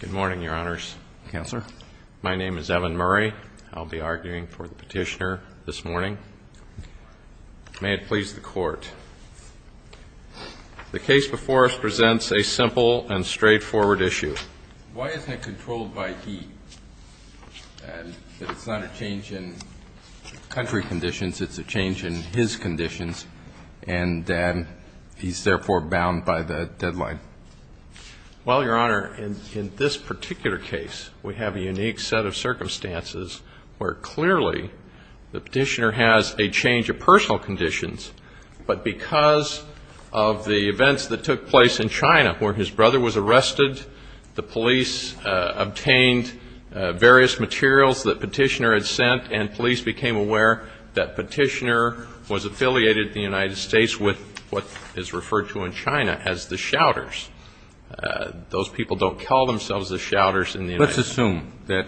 Good morning, Your Honors. My name is Evan Murray. I'll be arguing for the petitioner this morning. May it please the Court, the case before us presents a simple and straightforward issue. Why isn't it controlled by he? It's not a change in country conditions, it's a change in his conditions, and then he's therefore bound by the deadline. Well, Your Honor, in this particular case, we have a unique set of circumstances where clearly the petitioner has a change of personal conditions, but because of the police obtained various materials that petitioner had sent, and police became aware that petitioner was affiliated in the United States with what is referred to in China as the Shouters. Those people don't call themselves the Shouters in the United States. Let's assume that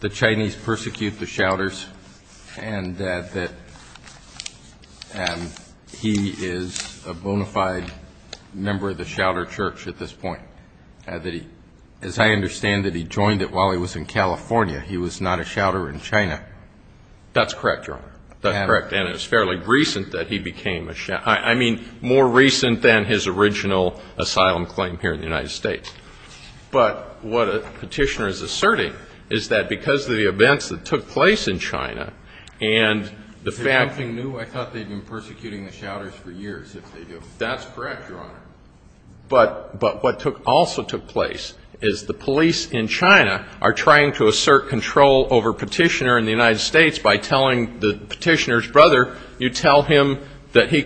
the Chinese persecute the Shouters and that he is a bona fide member of the Shouter Church at this point. As I understand it, he joined it while he was in California. He was not a Shouter in China. That's correct, Your Honor. That's correct. And it was fairly recent that he became a Shouter. I mean, more recent than his original asylum claim here in the United States. But what the petitioner is asserting is that because of the events that took place in China and the fact that they were persecuting the Shouters for years, if they do. That's correct, Your Honor. But what also took place is the police in China are trying to assert control over petitioner in the United States by telling the petitioner's brother, you tell him that he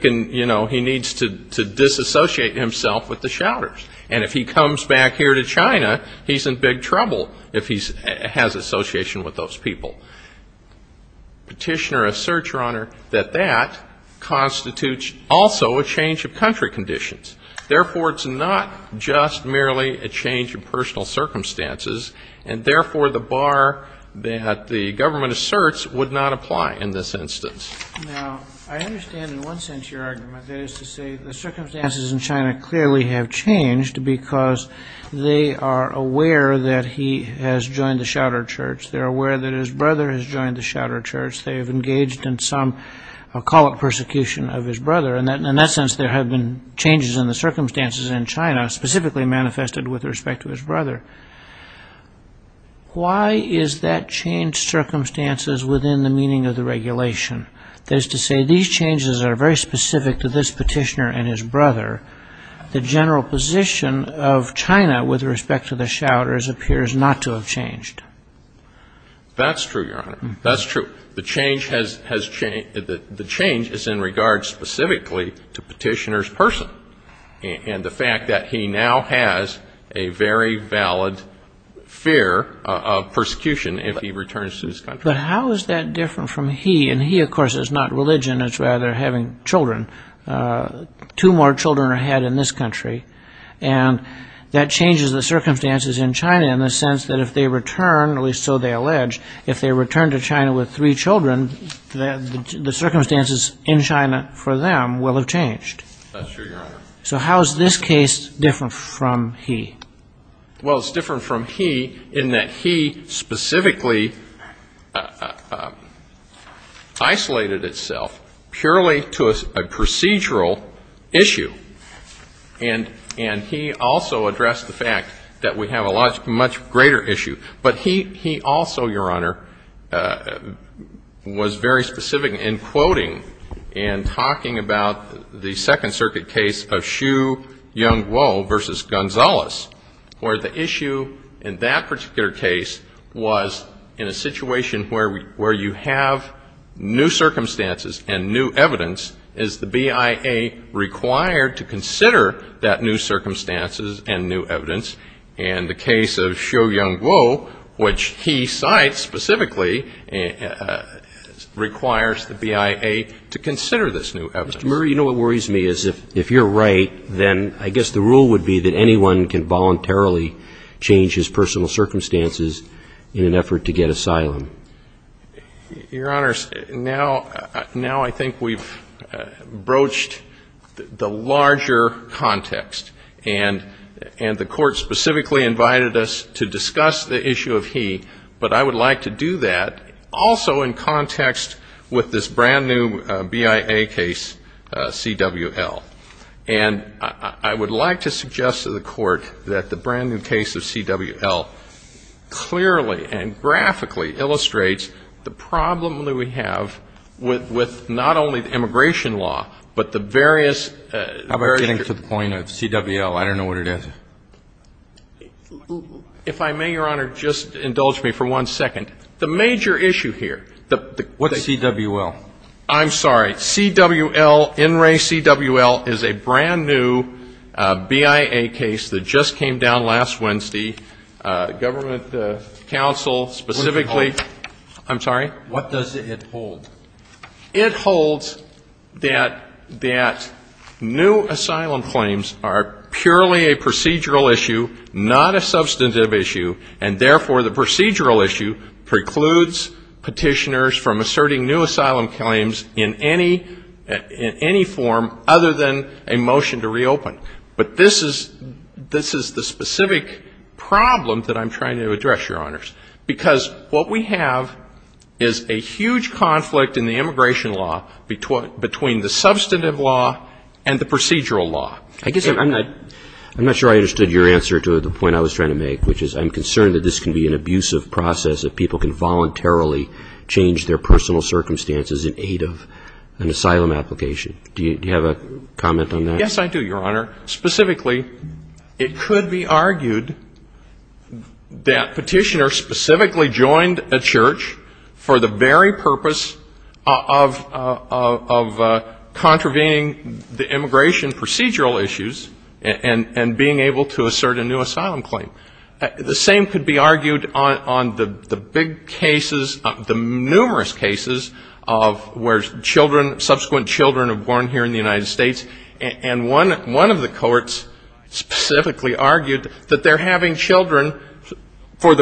needs to disassociate himself with the Shouters. And if he comes back here to China, he's in big trouble if he has association with those people. Petitioner asserts, Your Honor, that that constitutes also a change of country conditions. Therefore, it's not just merely a change of personal circumstances. And therefore, the bar that the government asserts would not apply in this instance. Now, I understand in one sense your argument. That is to say, the circumstances in China clearly have changed because they are aware that he has joined the Shouter Church. They're changed in some call it persecution of his brother. And in that sense, there have been changes in the circumstances in China specifically manifested with respect to his brother. Why is that change circumstances within the meaning of the regulation? That is to say, these changes are very specific to this petitioner and his brother. The general position of China with respect to the Shouters appears not to have changed. That's true, Your Honor. That's true. The change has changed. The change is in regard specifically to petitioner's person. And the fact that he now has a very valid fear of persecution if he returns to his country. But how is that different from he? And he, of course, is not religion. It's rather having children. Two more children are had in this country. And that changes the circumstances in China in the sense that if they return, at least so they allege, if they return to China with three children, the circumstances in China for them will have changed. That's true, Your Honor. So how is this case different from he? Well, it's different from he in that he specifically isolated itself purely to a procedural issue. And he also addressed the fact that we have a much greater issue. But he also, Your Honor, was very specific in quoting and talking about the Second Circuit case of Xu Yonguo v. Gonzales where the issue in that particular case was in a situation where you have new circumstances and new evidence. Is the BIA required to consider that new circumstances and new evidence? And the case of Xu Yonguo, which he cites specifically, requires the BIA to consider this new evidence. Mr. Murray, you know what worries me is if you're right, then I guess the rule would be that anyone can voluntarily change his personal circumstances in an effort to get asylum. Your Honors, now I think we've broached the larger context. And the Court specifically invited us to discuss the issue of he, but I would like to do that also in context with this brand new BIA case, CWL. And I would like to suggest to the Court that the brand new case of CWL clearly and graphically illustrates the problem that we have with not only the immigration law, but the various — How about getting to the point of CWL? I don't know what it is. If I may, Your Honor, just indulge me for one second. The major issue here — What's CWL? I'm sorry. CWL, NRA CWL, is a brand new BIA case that just came down last week. And last Wednesday, government counsel specifically — What does it hold? I'm sorry? What does it hold? It holds that new asylum claims are purely a procedural issue, not a substantive issue, and therefore the procedural issue precludes Petitioners from asserting new asylum claims in any form other than a motion to reopen. But this is — this is the specific problem that I'm trying to address, Your Honors, because what we have is a huge conflict in the immigration law between the substantive law and the procedural law. I guess I'm not — I'm not sure I understood your answer to the point I was trying to make, which is I'm concerned that this can be an abusive process, that people can voluntarily change their personal circumstances in aid of an asylum application. Do you have a comment on that? Yes, I do, Your Honor. Specifically, it could be argued that Petitioners specifically joined a church for the very purpose of contravening the immigration procedural issues and being able to assert a new asylum claim. The same could be argued on the big cases, the numerous cases of where children, subsequent children are born here in the United States, and one of the courts specifically argued that they're having children for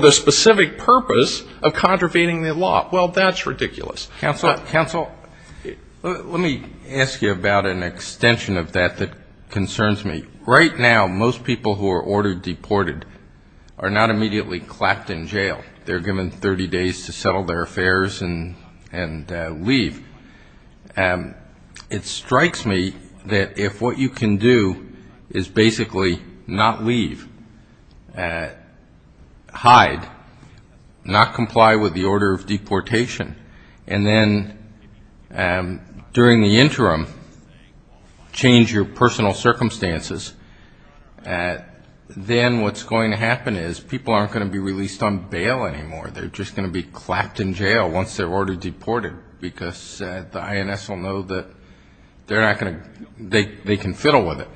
the specific purpose of contravening the law. Well, that's ridiculous. Counsel, let me ask you about an extension of that that concerns me. Right now, most people who are ordered deported are not immediately clapped in jail. They're given 30 days to disperse and leave. It strikes me that if what you can do is basically not leave, hide, not comply with the order of deportation, and then during the interim change your personal circumstances, then what's going to happen is people aren't going to be released on bail anymore. They're just going to be clapped in jail once they're ordered deported, because the INS will know that they're not going to, they can fiddle with it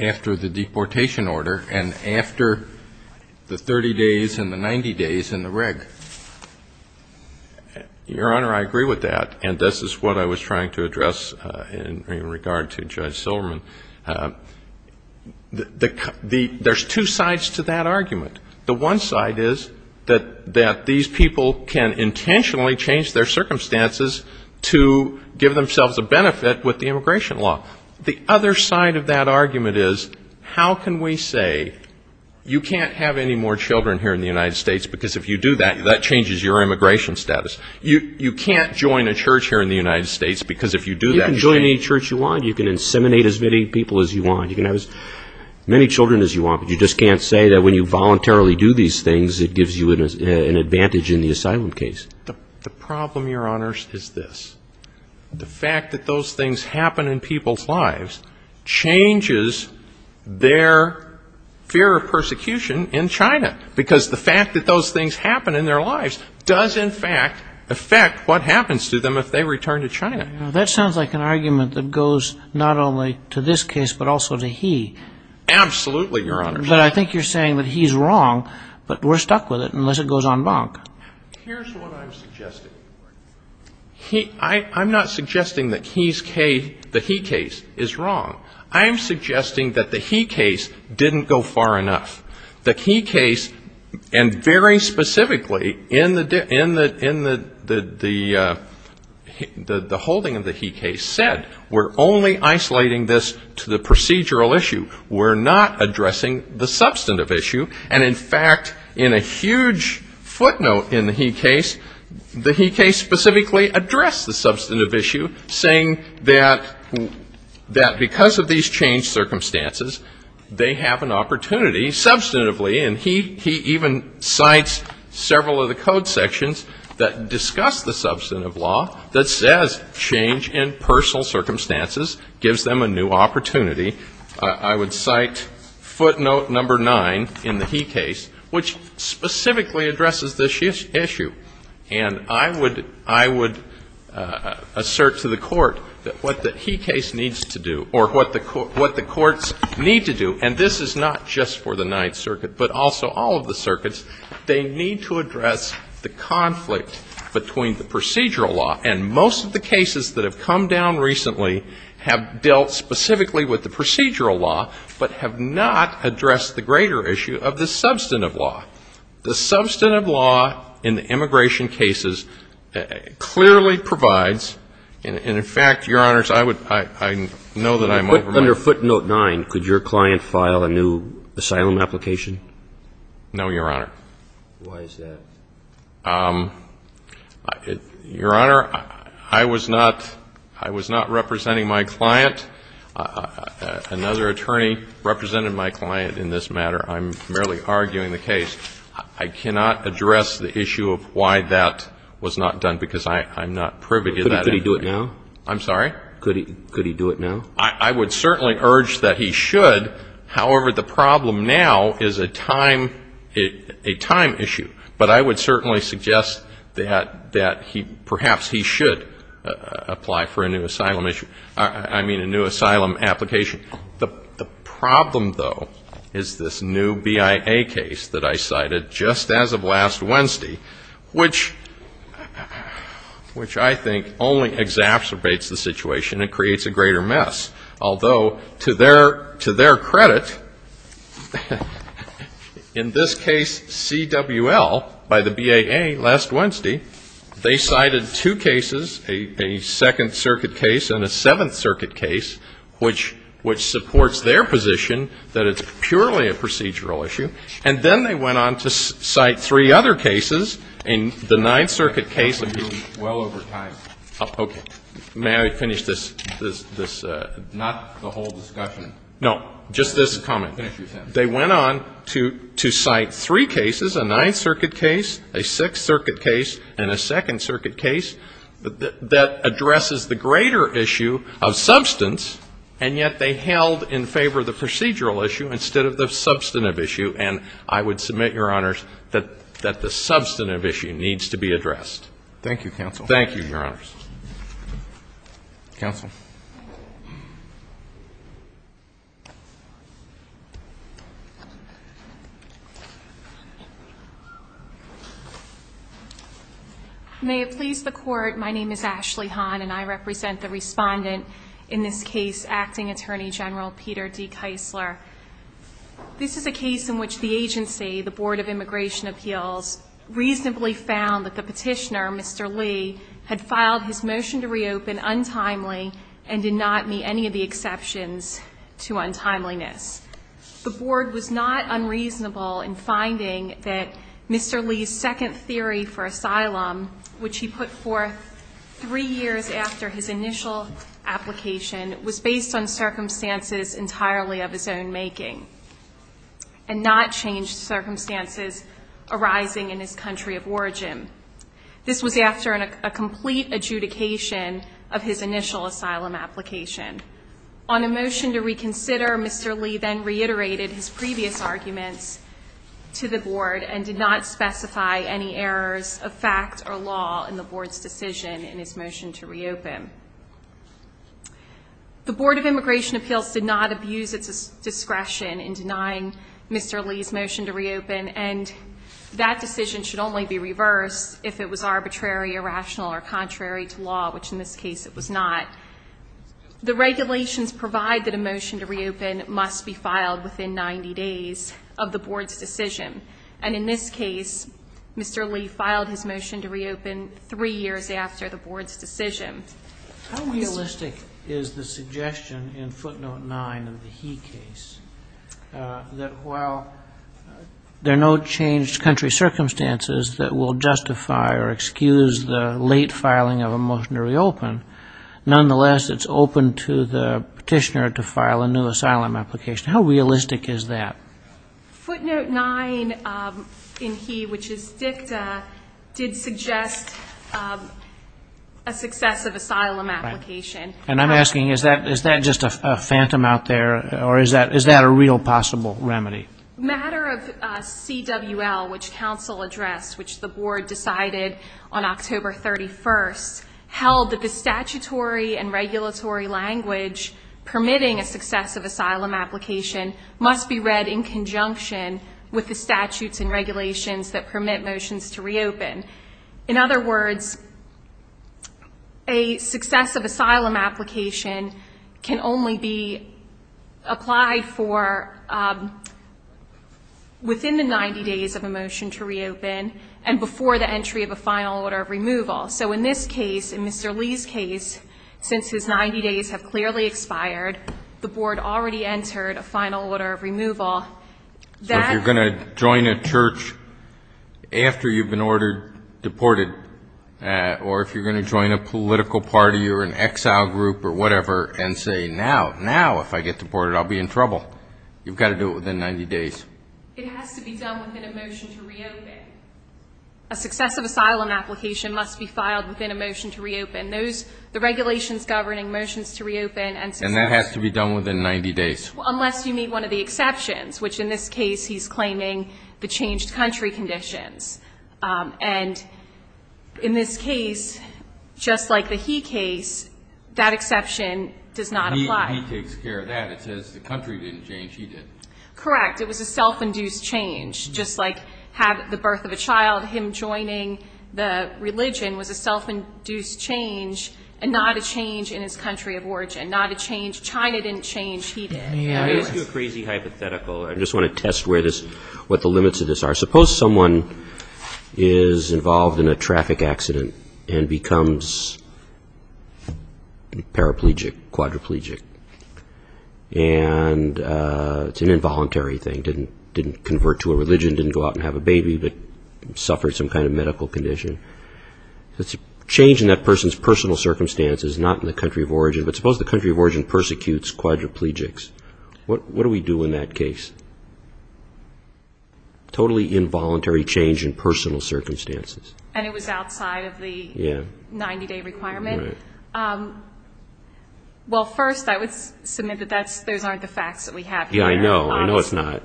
after the deportation order and after the 30 days and the 90 days in the rig. Your Honor, I agree with that, and this is what I was trying to address in regard to Judge Silverman. There's two sides to that argument. The one side is that the courts have decided that these people can intentionally change their circumstances to give themselves a benefit with the immigration law. The other side of that argument is, how can we say you can't have any more children here in the United States, because if you do that, that changes your immigration status. You can't join a church here in the United States, because if you do that, you can't. You can join any church you want. You can inseminate as many people as you want. You can have as many children as you want, but you just can't say that when you voluntarily do these things, it gives you an advantage in the asylum case. The problem, Your Honor, is this. The fact that those things happen in people's lives changes their fear of persecution in China, because the fact that those things happen in their lives does, in fact, affect what happens to them if they return to China. That sounds like an argument that goes not only to this case, but also to he. Absolutely, Your Honor. But I think you're saying that he's wrong, but we're stuck with it unless it goes en banc. Here's what I'm suggesting. I'm not suggesting that he's case, the he case, is wrong. I'm suggesting that the he case didn't go far enough. The he case, and very specifically in the holding of the he case, said we're only isolating this to the procedural issue. We're not addressing the substantive issue. And, in fact, in a huge footnote in the he case, the he case specifically addressed the substantive issue, saying that because of these changed circumstances, they have an opportunity substantively. And he even cites several of the code sections that discuss the substantive law that says change in personal circumstances gives them a new opportunity. I would cite footnote number nine in the he case, which specifically addresses this issue. And I would assert to the court that what the he case needs to do, or what the courts need to do, and this is not just for the Ninth Circuit, but also all of the circuits, they need to address the conflict between the procedural law. And most of the cases that have come down recently have dealt specifically with the procedural law, but have not addressed the greater issue of the substantive law. The substantive law in the immigration cases clearly provides, and, in fact, Your Honors, I would – I know that I'm over my – But under footnote nine, could your client file a new asylum application? No, Your Honor. Why is that? Your Honor, I was not – I was not representing my client. Another attorney represented my client in this matter. I'm merely arguing the case. I cannot address the issue of why that was not done, because I'm not privy to that. Could he do it now? I'm sorry? Could he do it now? I would certainly urge that he should. However, the problem now is a time issue. But I would certainly suggest that he – perhaps he should apply for a new asylum issue – I mean a new asylum application. The problem, though, is this new BIA case that I cited just as of last Wednesday, which – which I think only exacerbates the situation and creates a greater mess, although to their – to their credit, in this case CWL by the BIA last Wednesday, they cited two cases, a Second Circuit case and a Seventh Circuit case, which – which supports their position that it's purely a procedural issue. And then they went on to cite three other cases, and the Ninth Circuit case of the – Well over time. Okay. May I finish this – this – this – Not the whole discussion. No. Just this comment. Finish your sentence. They went on to – to cite three cases, a Ninth Circuit case, a Sixth Circuit case, and a Second Circuit case that – that addresses the greater issue of substance, and yet they held in favor of the procedural issue instead of the substantive issue, and I would submit, Your Honors, that – that the substantive issue needs to be addressed. Thank you, counsel. Thank you, Your Honors. Counsel. May it please the Court, my name is Ashley Hahn, and I represent the respondent in this case, Acting Attorney General Peter D. Keisler. This is a case in which the agency, the Board of Immigration Appeals, reasonably found that the petitioner, Mr. Lee, had filed his motion to reopen untimely and did not meet any of the exceptions to untimeliness. The Board was not unreasonable in finding that Mr. Lee's second theory for asylum, which he put forth three years after his initial application, was based on circumstances entirely of his own making, and not changed circumstances arising in his country of origin. This was after a complete adjudication of his initial asylum application. On a motion to reconsider, Mr. Lee then reiterated his previous arguments to the Board and did not specify any errors of fact or law in the Board's decision in his motion to reopen. The Board of Immigration Appeals did not abuse its discretion in denying Mr. Lee's motion to reopen, and that decision should only be reversed if it was arbitrary, irrational, or contrary to law, which in this case it was not. The regulations provide that a motion to reopen must be filed within 90 days of the Board's decision, and in this case, Mr. Lee filed his motion to reopen three years after the Board's decision. How realistic is the suggestion in footnote 9 of the He case that while there are no changed country circumstances that will justify or excuse the late filing of a motion to reopen, nonetheless it's open to the petitioner to file a new asylum application? How realistic is that? Footnote 9 in He, which is dicta, did suggest a successive asylum application. And I'm asking, is that just a phantom out there, or is that a real possible remedy? Matter of CWL, which counsel addressed, which the Board decided on October 31st, held that the statutory and regulatory language permitting a successive asylum application must be read in conjunction with the statutes and regulations that permit motions to reopen. In other words, a successive asylum application can only be applied for within the 90 days of a motion to reopen and before the entry of a final order of removal. So in this case, in Mr. Lee's case, since his 90 days have clearly expired, the Board already entered a final order of removal. So if you're going to join a church after you've been ordered, deported, or if you're going to join a political party or an exile group or whatever and say, now, now, if I get deported, I'll be in trouble, you've got to do it within 90 days? It has to be done within a motion to reopen. A successive asylum application must be filed within a motion to reopen. Those, the regulations governing motions to reopen and successive And that has to be done within 90 days? Unless you meet one of the exceptions, which in this case he's claiming the changed country conditions. And in this case, just like the He case, that exception does not apply. He takes care of that. It says the country didn't change, he did. Correct. It was a self-induced change. Just like the birth of a child, him joining the religion was a self-induced change and not a change in his country of origin, not a change because China didn't change, he did. Let me ask you a crazy hypothetical. I just want to test what the limits of this are. Suppose someone is involved in a traffic accident and becomes paraplegic, quadriplegic, and it's an involuntary thing, didn't convert to a religion, didn't go out and have a baby, but suffered some kind of medical condition. It's a change in that person's personal circumstances, not in the country of origin. But suppose the country of origin persecutes quadriplegics. What do we do in that case? Totally involuntary change in personal circumstances. And it was outside of the 90-day requirement? Right. Well, first I would submit that those aren't the facts that we have here. Yeah, I know. I know it's not.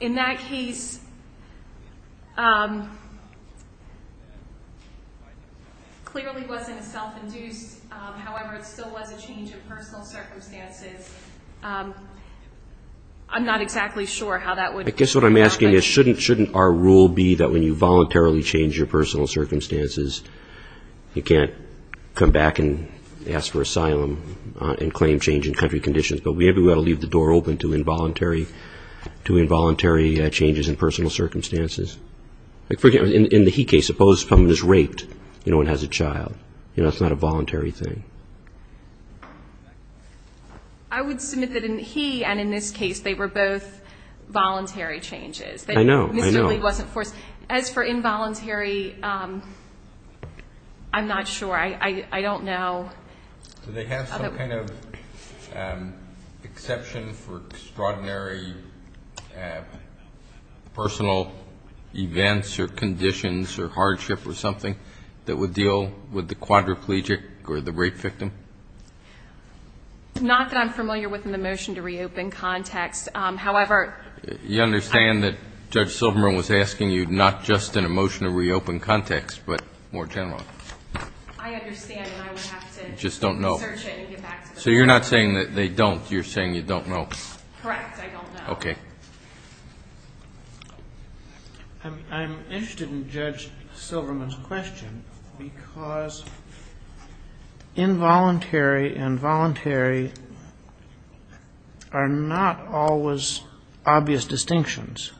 In that case, it clearly wasn't self-induced. However, it still was a change in personal circumstances. I'm not exactly sure how that would work. I guess what I'm asking is, shouldn't our rule be that when you voluntarily change your personal circumstances, you can't come back and ask for asylum and claim change in country to involuntary changes in personal circumstances? For example, in the He case, suppose someone is raped and has a child. That's not a voluntary thing. I would submit that in He and in this case, they were both voluntary changes. I know. I know. Mr. Lee wasn't forced. As for involuntary, I'm not sure. I don't know. Do they have some kind of exception for extraordinary personal events or conditions or hardship or something that would deal with the quadriplegic or the rape victim? Not that I'm familiar with in the motion to reopen context. However, You understand that Judge Silverman was asking you not just in a motion to reopen context, but more generally. I understand and I would have to search it and get back to the court. So you're not saying that they don't. You're saying you don't know. Correct. I don't know. Okay. I'm interested in Judge Silverman's question because involuntary and voluntary are not always obvious distinctions.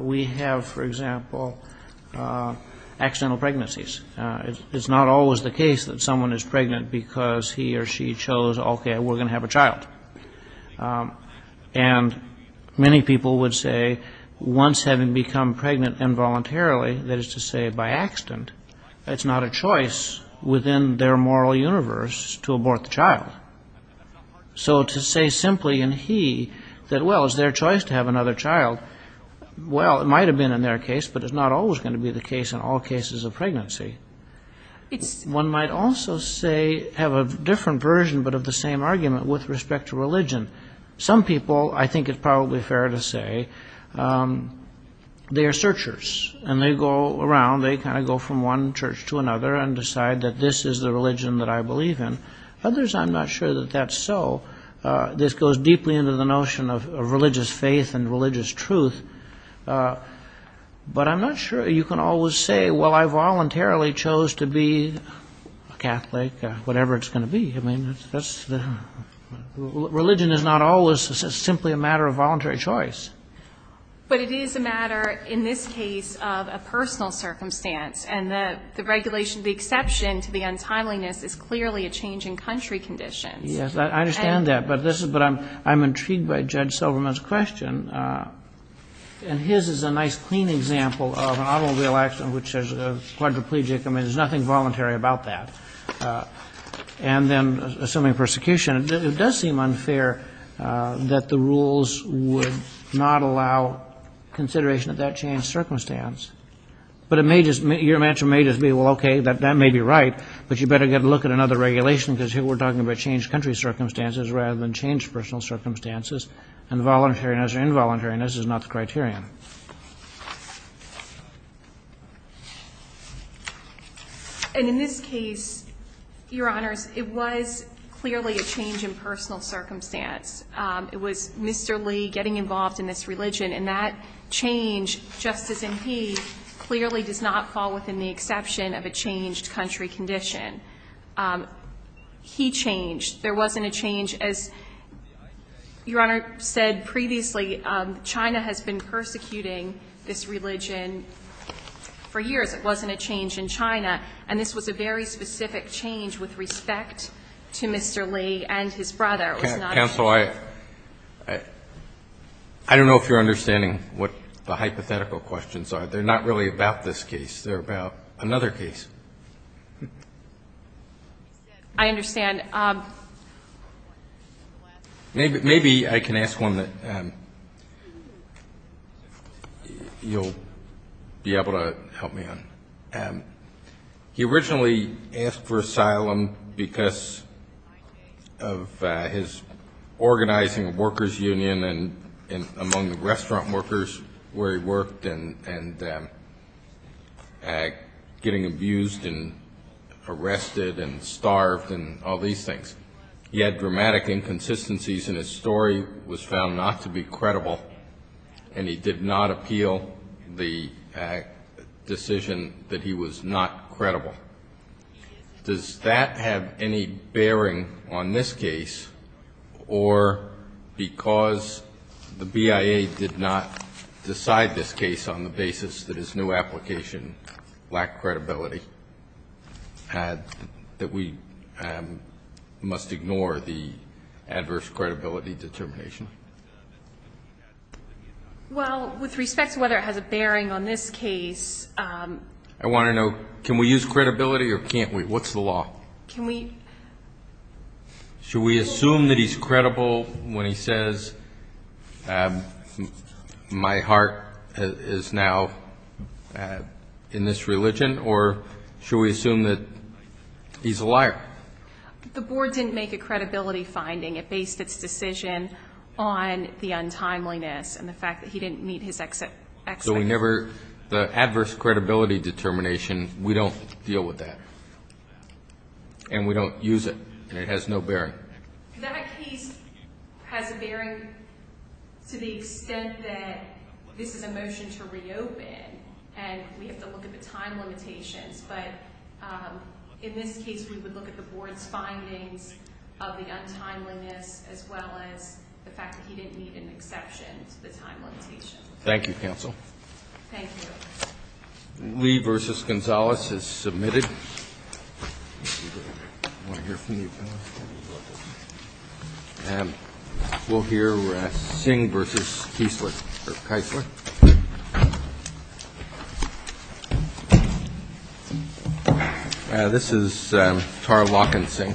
We have, for example, accidental pregnancies. It's not always the case that someone is pregnant because he or she chose, okay, we're going to have a child. And many people would say once having become pregnant involuntarily, that is to say by accident, it's not a choice within their moral universe to abort the child. So to say simply in he that, well, it's their choice to have another child. Well, it might have been in their case, but it's not always going to be the case in all cases of pregnancy. It's one might also say have a different version, but of the same argument with respect to religion. Some people, I think it's probably fair to say they are searchers and they go around. They kind of go from one church to another and decide that this is the religion that I believe in. Others, I'm not sure that that's so. This goes deeply into the notion of religious faith and religious truth. But I'm not sure you can always say, well, I voluntarily chose to be Catholic, whatever it's going to be. I mean, religion is not always simply a matter of voluntary choice. But it is a matter, in this case, of a personal circumstance. And the regulation, the exception to the untimeliness is clearly a change in country conditions. Yes. I understand that. But this is what I'm intrigued by Judge Silverman's question. And his is a nice clean example of an automobile accident which is a quadriplegic. I mean, there's nothing voluntary about that. And then assuming persecution, it does seem unfair that the rules would not allow consideration of that changed circumstance. But your answer may just be, well, okay, that may be right. But you better get a look at another regulation because here we're talking about changed country circumstances rather than changed personal circumstances. And voluntariness or involuntariness is not the criterion. And in this case, Your Honors, it was clearly a change in personal circumstance. It was Mr. Lee getting involved in this religion. And that change, just as in he, clearly does not fall within the exception of a changed country condition. He changed. There wasn't a change as Your Honor said previously. China has been persecuting this religion for years. It wasn't a change in China. And this was a very specific change with respect to Mr. Lee and his brother. Counsel, I don't know if you're understanding what the hypothetical questions are. They're not really about this case. They're about another case. I understand. Maybe I can ask one that you'll be able to help me on. He originally asked for asylum because of his organizing of workers' union and among the restaurant workers where he worked and getting abused and arrested and starved and all these things. He had dramatic inconsistencies in his story, was found not to be credible, and he did not appeal the decision that he was not credible. Does that have any bearing on this case or because the BIA did not decide this case on the basis that his new application lacked credibility, that we must ignore the adverse credibility determination? Well, with respect to whether it has a bearing on this case. I want to know, can we use credibility or can't we? What's the law? Should we assume that he's credible when he says, my heart is now in this religion, or should we assume that he's a liar? The board didn't make a credibility finding. It based its decision on the untimeliness and the fact that he didn't meet his expectations. So we never, the adverse credibility determination, we don't deal with that. And we don't use it, and it has no bearing. That case has a bearing to the extent that this is a motion to reopen, and we have to look at the time limitations. But in this case, we would look at the board's findings of the untimeliness, as well as the fact that he didn't meet an exception to the time limitation. Thank you, counsel. Thank you. Lee v. Gonzales has submitted. I want to hear from you. And we'll hear Singh v. Keisler. This is Tara Lock and Singh.